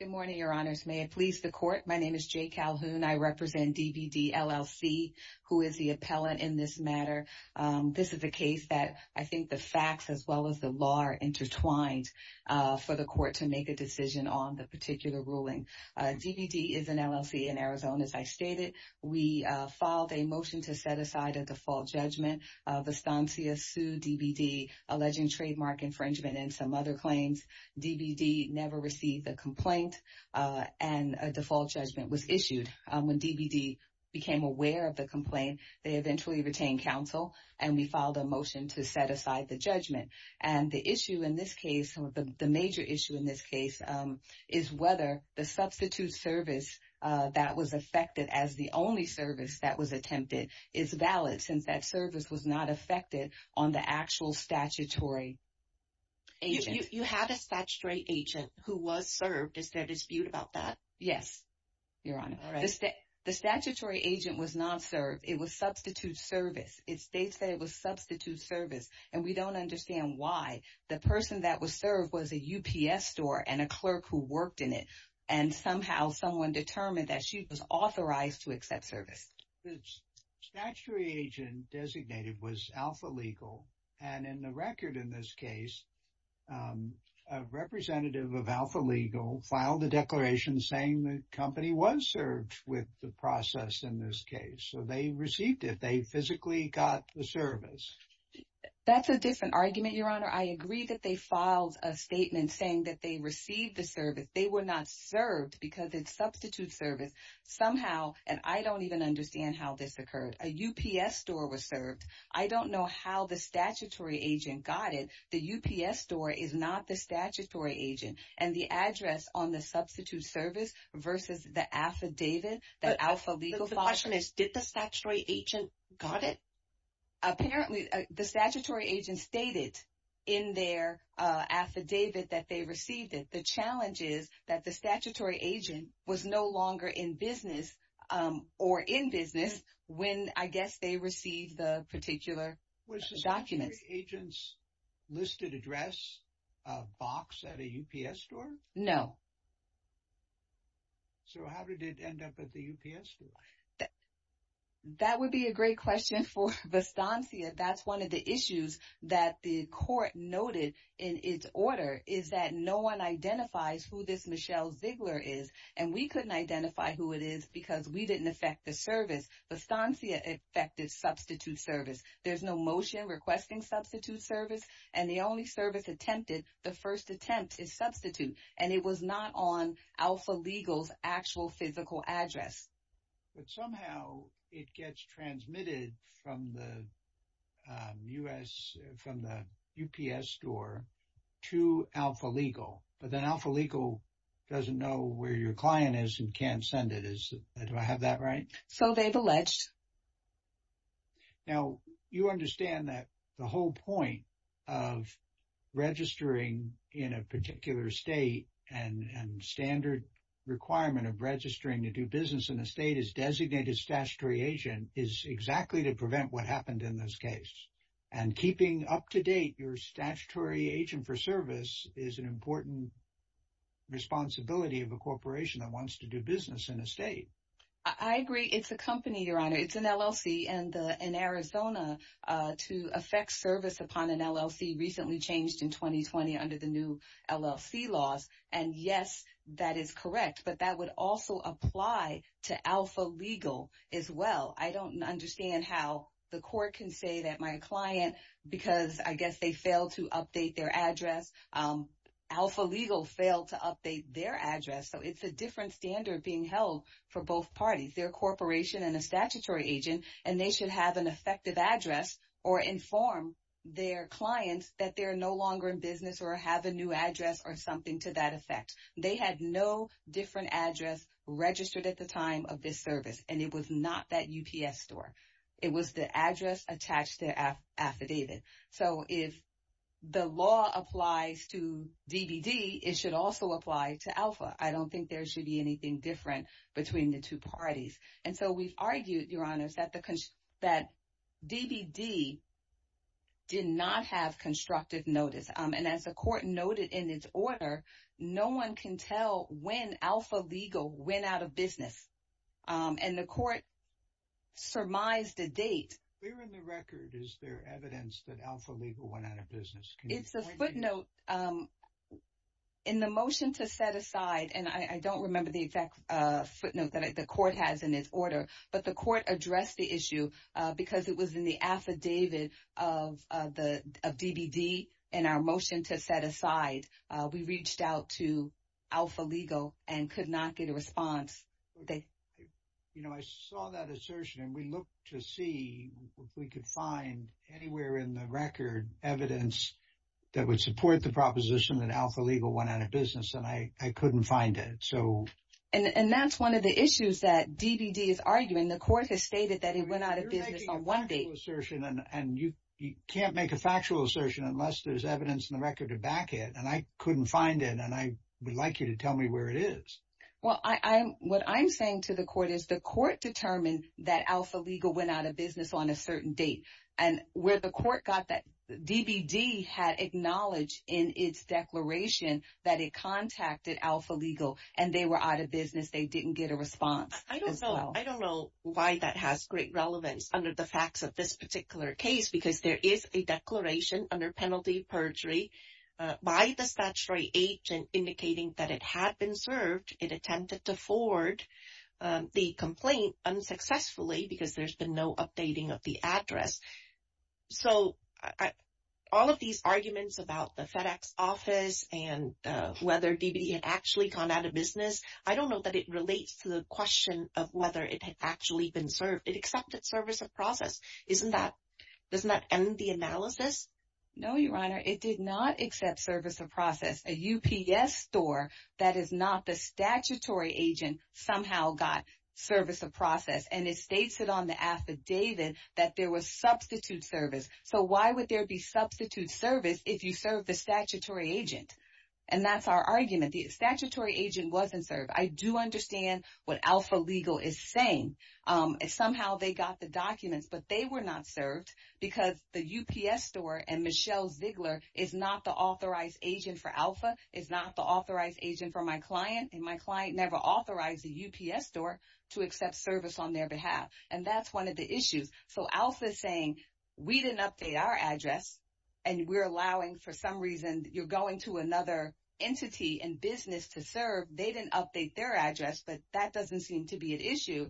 Good morning, your honors. May it please the court. My name is Jay Calhoun. I represent DBD, LLC, who is the appellant in this matter. This is a case that I think the facts as well as the law are intertwined for the court to make a decision on the particular ruling. DBD is an LLC in Arizona, as I stated. We filed a motion to set aside a default judgment. Vistancia sued DBD, received a complaint, and a default judgment was issued. When DBD became aware of the complaint, they eventually retained counsel, and we filed a motion to set aside the judgment. And the issue in this case, the major issue in this case, is whether the substitute service that was affected as the only service that was attempted is valid, since that service was not statutory. You have a statutory agent who was served. Is there a dispute about that? Yes, your honor. The statutory agent was not served. It was substitute service. It states that it was substitute service, and we don't understand why. The person that was served was a UPS store and a clerk who worked in it, and somehow someone determined that she was authorized to accept service. The statutory agent designated was Alpha Legal, and in the record in this case, a representative of Alpha Legal filed a declaration saying the company was served with the process in this case. So they received it. They physically got the service. That's a different argument, your honor. I agree that they filed a statement saying that they I don't even understand how this occurred. A UPS store was served. I don't know how the statutory agent got it. The UPS store is not the statutory agent, and the address on the substitute service versus the affidavit, the Alpha Legal file. The question is, did the statutory agent got it? Apparently, the statutory agent stated in their affidavit that they received it. The challenge is that the statutory agent was no longer in business or in business when, I guess, they received the particular documents. Was the statutory agent's listed address a box at a UPS store? No. So how did it end up at the UPS store? That would be a great question for Vastansia. That's one of the issues that the court noted in its order is that no one identifies who this Michelle Ziegler is, and we couldn't identify who it is because we didn't affect the service. Vastansia affected substitute service. There's no motion requesting substitute service, and the only service attempted, the first attempt is substitute, and it was not on Alpha Legal's physical address. But somehow, it gets transmitted from the UPS store to Alpha Legal, but then Alpha Legal doesn't know where your client is and can't send it. Do I have that right? So they've alleged. Now, you understand that the whole point of registering in a particular state and standard requirement of registering to do business in the state is designated statutory agent is exactly to prevent what happened in this case. And keeping up to date your statutory agent for service is an important responsibility of a corporation that wants to do business in a state. I agree. It's a company, Your Honor. It's an LLC, and in Arizona, to affect service upon an LLC recently changed in 2020 under the new LLC laws. And yes, that is correct, but that would also apply to Alpha Legal as well. I don't understand how the court can say that my client, because I guess they failed to update their address, Alpha Legal failed to update their address. So it's a different standard being held for both parties. They're a corporation and a statutory agent, and they should have an effective address or inform their clients that they're no longer in business or have a new address or something to that effect. They had no different address registered at the time of this service, and it was not that UPS store. It was the address attached to affidavit. So if the law applies to DVD, it should also apply to Alpha. I don't think there should be anything different between the two parties. And so we've argued, Your Honor, that DVD did not have constructive notice. And as the court noted in its order, no one can tell when Alpha Legal went out of business. And the court surmised a date. Where in the record is there evidence that Alpha Legal went out of business? It's a footnote. In the motion to set aside, and I don't remember the exact footnote that the court has in its order, but the court addressed the issue because it was in the affidavit of DVD. In our motion to set aside, we reached out to Alpha Legal and could not get a response. You know, I saw that assertion, and we looked to see if we could find anywhere in the record evidence that would support the proposition that Alpha Legal went out of business, and I couldn't find it. And that's one of the issues that DVD is arguing. The court has stated that it went out of business on one date. You're making a factual assertion, and you can't make a factual assertion unless there's evidence in the record to back it. And I couldn't find it, and I would like you to tell me where it is. Well, what I'm saying to the court is the court determined that Alpha Legal went out of business on a certain date. And where the court got that, DVD had acknowledged in its declaration that it contacted Alpha Legal, and they were out of business. They didn't get a response as well. I don't know why that has great relevance under the facts of this particular case because there is a declaration under penalty perjury by the statutory agent indicating that it had been served. It attempted to forward the complaint unsuccessfully because there's been no updating of the address. So all of these arguments about the FedEx office and whether DVD had actually gone out of business, I don't know that it relates to the question of whether it had actually been served. It accepted service of process. Doesn't that end the analysis? No, Your Honor. It did not accept service of process. A UPS store that is not the statutory agent somehow got service of process, and it states it on the affidavit that there was substitute service. So why would there be substitute service if you serve the statutory agent? And that's our argument. The statutory agent wasn't served. I do understand what Alpha Legal is saying. Somehow they got the documents, but they were not served because the UPS store and Michelle Ziegler is not the authorized agent for Alpha, is not the authorized agent for my client, and my client never authorized a UPS store to accept service on their behalf. And that's one of the issues. So Alpha is saying, we didn't update our address, and we're allowing, for some reason, you're going to another entity and business to serve. They didn't update their address, but that doesn't seem to be an issue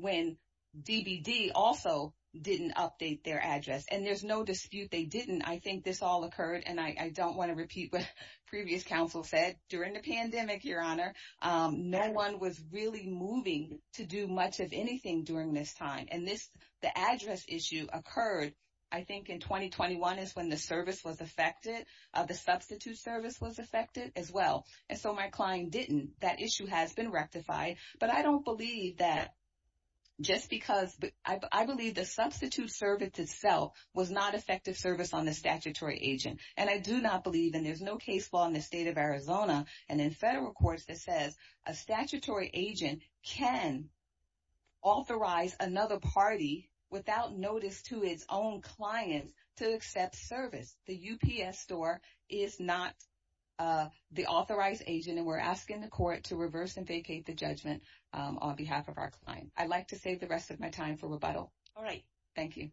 when DVD also didn't update their address. And there's no dispute they didn't. I think this all occurred, and I don't want to repeat what previous counsel said during the pandemic, Your Honor. No one was really moving to do much of anything during this time. And this, the address issue occurred, I think, in 2021 is when the service was affected, the substitute service was affected as well. And so my client didn't. That issue has been rectified. But I don't believe that just because, I believe the substitute service itself was not effective service on the statutory agent. And I do not believe, and there's no case law in the state of Arizona and in federal courts that says a statutory agent can authorize another party without notice to its own client to accept service. The UPS store is not the authorized agent, and we're asking the court to reverse and vacate the judgment on behalf of our client. I'd like to save the rest of my time for rebuttal. All right. Thank you.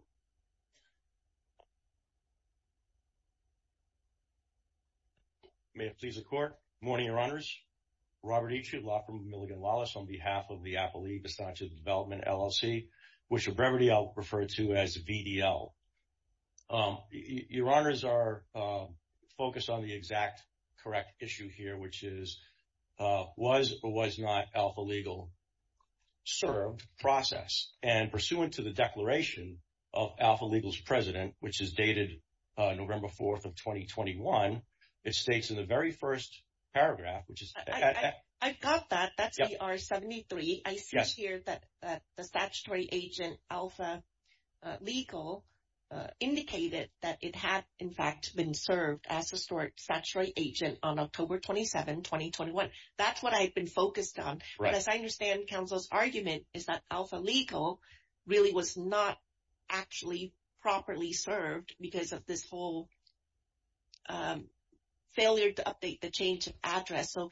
Robert. May it please the court. Morning, Your Honors. Robert Eachott, law firm of Milligan Wallace, on behalf of the Appalachian Development LLC, which of brevity I'll refer to as VDL. Your Honors are focused on the exact correct issue here, which is was or was not alpha legal served process. And pursuant to the declaration of Alpha Legal's president, which is dated November 4th of 2021, it states in the very first paragraph, which is. I've got that. That's the R73. I see here that the statutory agent alpha legal indicated that it had, in fact, been served as a statutory agent on October 27, 2021. That's what I've focused on. As I understand counsel's argument is that alpha legal really was not actually properly served because of this whole failure to update the change of address. So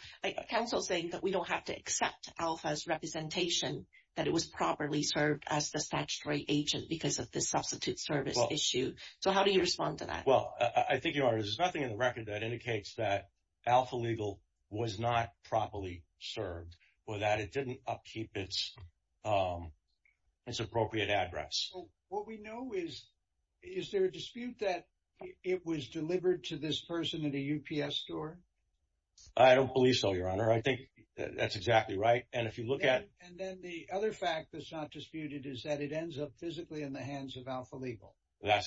counsel saying that we don't have to accept alpha's representation, that it was properly served as the statutory agent because of this substitute service issue. So how do you respond to that? Well, I think Your Honors, there's nothing in the record that indicates that alpha legal was not properly served or that it didn't upkeep its appropriate address. What we know is, is there a dispute that it was delivered to this person at a UPS store? I don't believe so, Your Honor. I think that's exactly right. And if you look at And then the other fact that's not disputed is that it ends up physically in the hands of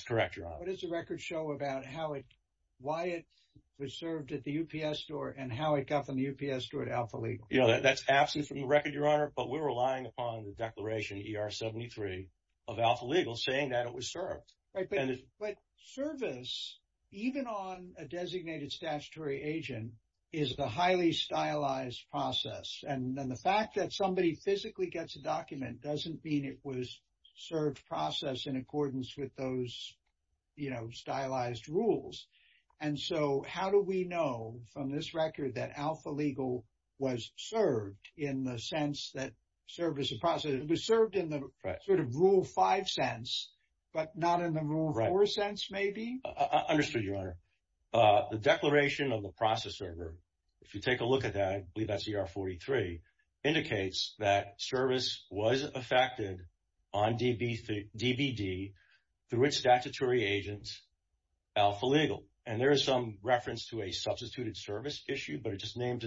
record show about how it, why it was served at the UPS store and how it got from the UPS store to alpha legal. That's absent from the record, Your Honor, but we're relying upon the declaration ER73 of alpha legal saying that it was served. But service, even on a designated statutory agent, is the highly stylized process. And then the fact that somebody physically gets a document doesn't mean it was served process in accordance with those stylized rules. And so how do we know from this record that alpha legal was served in the sense that service was served in the sort of rule five sense, but not in the rule four sense, maybe? Understood, Your Honor. The declaration of the process server, if you take a look at that, I believe that's ER43, indicates that service was affected on DBD through a statutory agent alpha legal. And there is some reference to a substituted service issue, but it just named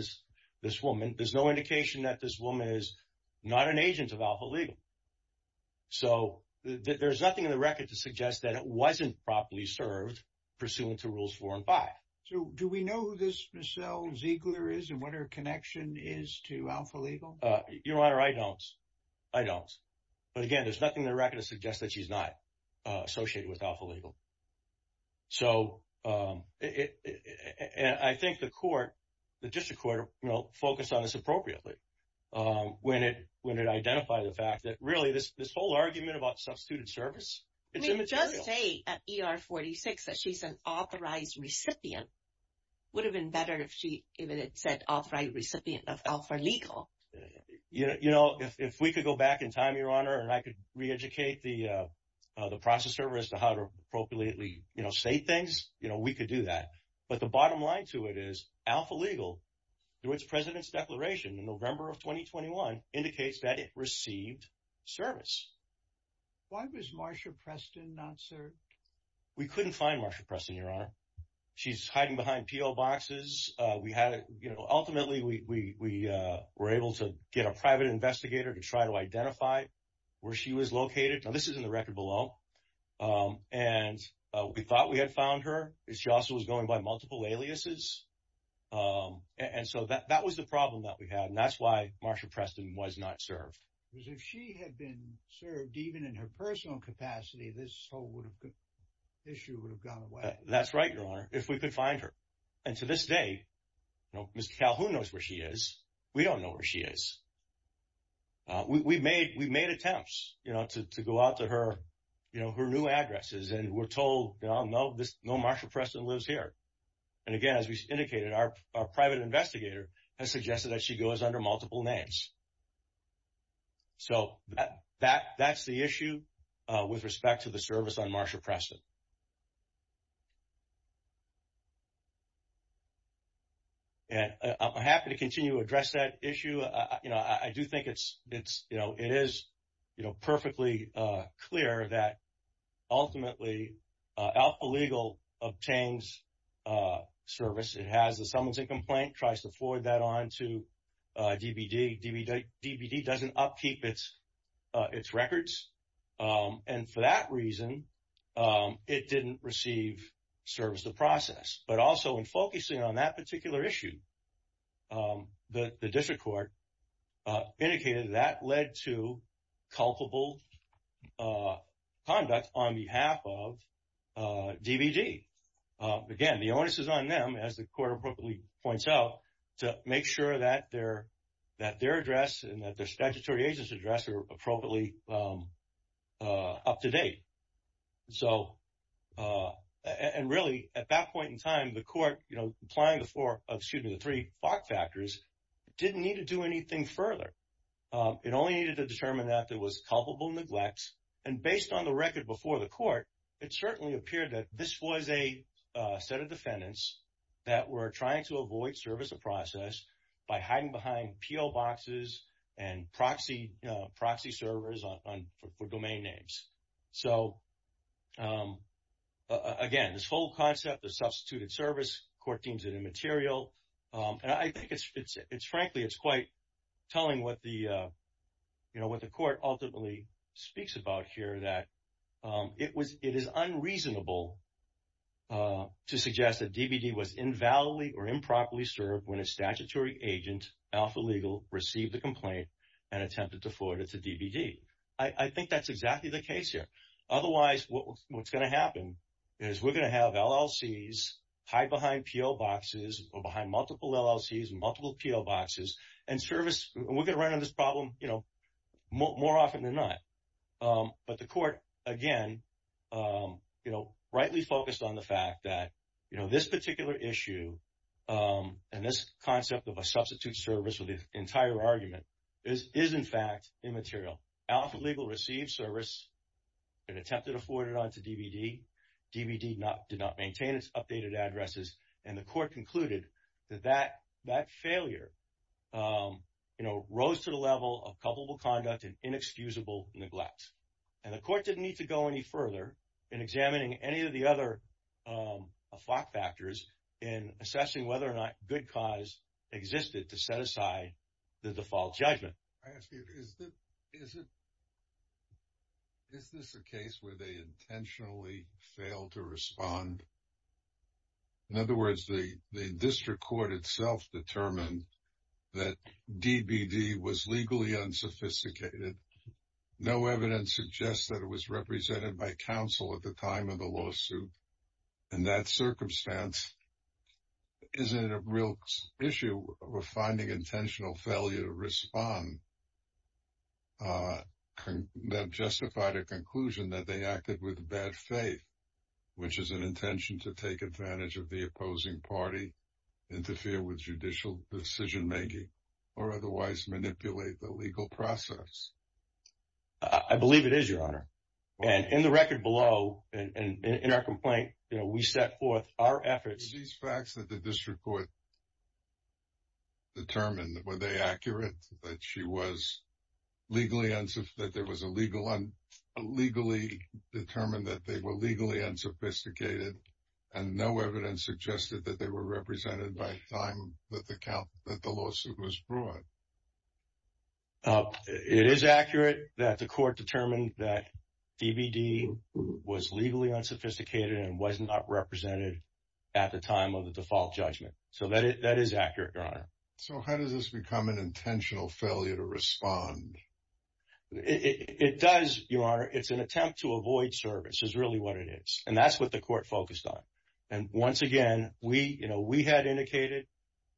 this woman. There's no indication that this woman is not an agent of alpha legal. So there's nothing in the record to suggest that it wasn't properly served pursuant to rules four and five. So do we know who this Micelle Ziegler is and what her connection is to alpha legal? Your Honor, I don't. I don't. But again, there's nothing in the record to suggest that she's not associated with alpha legal. So I think the court, the district court will focus on this appropriately when it identifies the fact that really this whole argument about substituted service, it's immaterial. It does say at ER46 that she's an authorized recipient. Would have been better if it had said authorized recipient of alpha legal. You know, if we could go back in time, Your Honor, and I could re-educate the process server as to how to appropriately, you know, state things, you know, we could do that. But the bottom line to it is alpha legal, through its president's declaration in November of 2021, indicates that it received service. Why was Marsha Preston not served? We couldn't find Marsha Preston, Your Honor. She's hiding behind PO boxes. We had, you know, ultimately, we were able to get a private investigator to try to identify where she was located. Now, this is in the record below. And we thought we had found her. She also was going by multiple aliases. And so that was the problem that we had. And that's why Marsha Preston was not served. Because if she had been served, even in her personal capacity, this whole would issue would have gone away. That's right, Your Honor, if we could find her. And to this day, you know, Ms. Calhoun knows where she is. We don't know where she is. We made attempts, you know, to go out to her, you know, her new addresses. And we're told, you know, no, Marsha Preston lives here. And again, as we indicated, our private investigator has suggested that she goes under multiple names. So that's the issue with respect to the service on Marsha Preston. And I'm happy to continue to address that issue. You know, I do think it's, it's, you know, it is, you know, perfectly clear that ultimately, Alpha Legal obtains service. It has the summons and complaint, tries to forward that on to DBD. DBD doesn't upkeep its records. And for that reason, it didn't receive service to process. But also in focusing on that particular issue, the district court indicated that led to culpable conduct on behalf of DBD. Again, the onus is on as the court appropriately points out, to make sure that their, that their address and that their statutory agents address are appropriately up to date. So, and really, at that point in time, the court, you know, applying the four, excuse me, the three FOC factors, didn't need to do anything further. It only needed to determine that there was culpable neglect. And based on the that we're trying to avoid service of process by hiding behind PO boxes and proxy servers on for domain names. So again, this whole concept of substituted service, court deems it immaterial. And I think it's frankly, it's quite telling what the, you know, what the court ultimately speaks about here that it was, it is unreasonable to suggest that DBD was invalidly or improperly served when a statutory agent, alpha legal, received the complaint and attempted to forward it to DBD. I think that's exactly the case here. Otherwise what's going to happen is we're going to have LLCs hide behind PO boxes or behind multiple LLCs and multiple PO boxes and service, and we're going to run into this problem, you know, more often than not. But the court, again, you know, rightly focused on the fact that, you know, this particular issue and this concept of a substitute service with the entire argument is in fact immaterial. Alpha legal received service and attempted to forward it on to DBD. DBD did not maintain its updated roles to the level of culpable conduct and inexcusable neglect. And the court didn't need to go any further in examining any of the other FOC factors in assessing whether or not good cause existed to set aside the default judgment. I ask you, is this a case where they intentionally failed to respond? In other words, the district court itself determined that DBD was legally unsophisticated. No evidence suggests that it was represented by counsel at the time of the lawsuit. In that circumstance, isn't it a real issue of finding intentional failure to respond that justified a conclusion that they acted with bad faith, which is an intention to take advantage of the opposing party, interfere with judicial decision-making, or otherwise manipulate the legal process? I believe it is, Your Honor. And in the record below, and in our complaint, you know, we set forth our efforts. Were these facts that the district court determined, were they accurate that she was legally, that there was a legal, legally determined that they were legally unsophisticated and no evidence suggested that they were represented by the time that the lawsuit was brought? It is accurate that the court determined that DBD was legally unsophisticated and was not represented at the time of the default judgment. So that is accurate, Your Honor. So how does this become an intentional failure to respond? It does, Your Honor. It's an attempt to avoid service is really what it is. And that's what the court focused on. And once again, we had indicated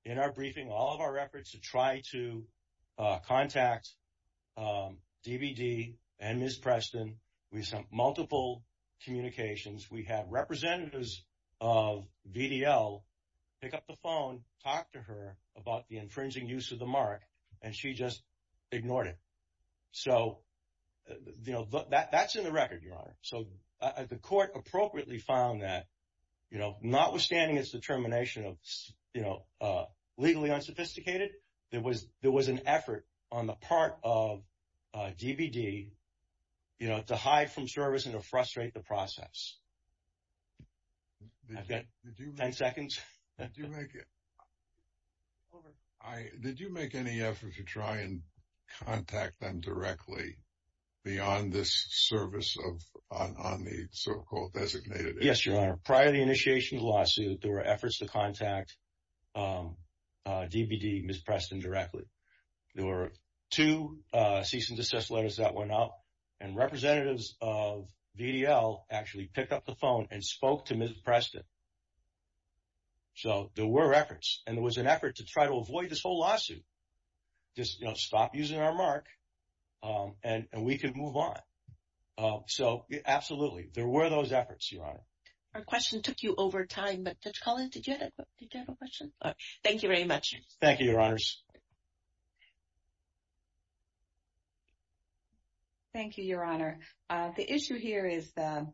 in our briefing, all of our efforts to try to contact DBD and Ms. Preston. We sent multiple communications. We have representatives of VDL pick up the phone, talk to her about the infringing use of the mark, and she just ignored it. So, you know, that's in the record, Your Honor. So the court appropriately found that, you know, notwithstanding its determination of, you know, legally unsophisticated, there was an effort on the part of DBD, you know, to hide from service and to frustrate the process. I've got 10 seconds. Did you make any effort to try and contact them directly beyond this service of on the so-called designated? Yes, Your Honor. Prior to the initiation of the lawsuit, there were efforts to contact DBD, Ms. Preston directly. There were two cease and desist letters that went out and representatives of VDL actually picked up the press. So there were efforts and there was an effort to try to avoid this whole lawsuit. Just stop using our mark and we could move on. So absolutely, there were those efforts, Your Honor. Our question took you over time, but did you have a question? Thank you very much. Thank you, Your Honors. Thank you, Your Honor. The issue here is the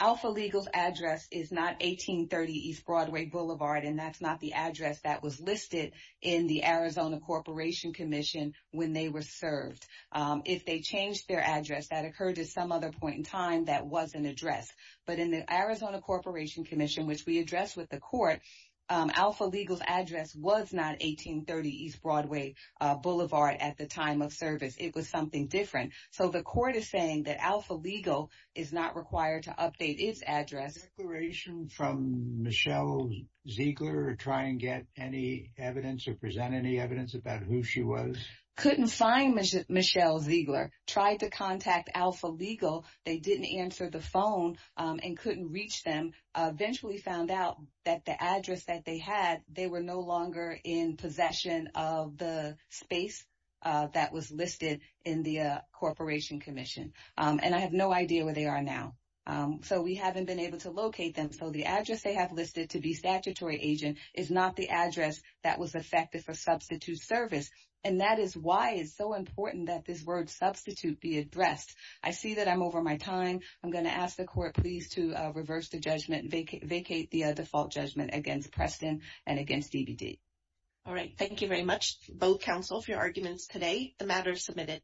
alpha legal's address is not 1830 East Broadway Boulevard, and that's not the address that was listed in the Arizona Corporation Commission when they were served. If they changed their address, that occurred at some other point in time that wasn't addressed. But in the Arizona Corporation Commission, which we addressed with the court, alpha legal's address was not 1830 East Broadway Boulevard at the time of service. It was something different. So the court is saying that alpha legal is not required to update its address. A declaration from Michelle Ziegler to try and get any evidence or present any evidence about who she was? Couldn't find Michelle Ziegler. Tried to contact alpha legal. They didn't answer the phone and couldn't reach them. Eventually found out that the address that they had, they were no longer in possession of the space that was listed in the Corporation Commission. And I have no idea where they are now. So we haven't been able to locate them. So the address they have listed to be statutory agent is not the address that was affected for substitute service. And that is why it's so important that this word substitute be addressed. I see that I'm over my time. I'm going to ask the court, please, to reverse the judgment and vacate the default judgment against Preston and against DBD. All right. Thank you very much, both counsel, for your arguments today. The matter is submitted.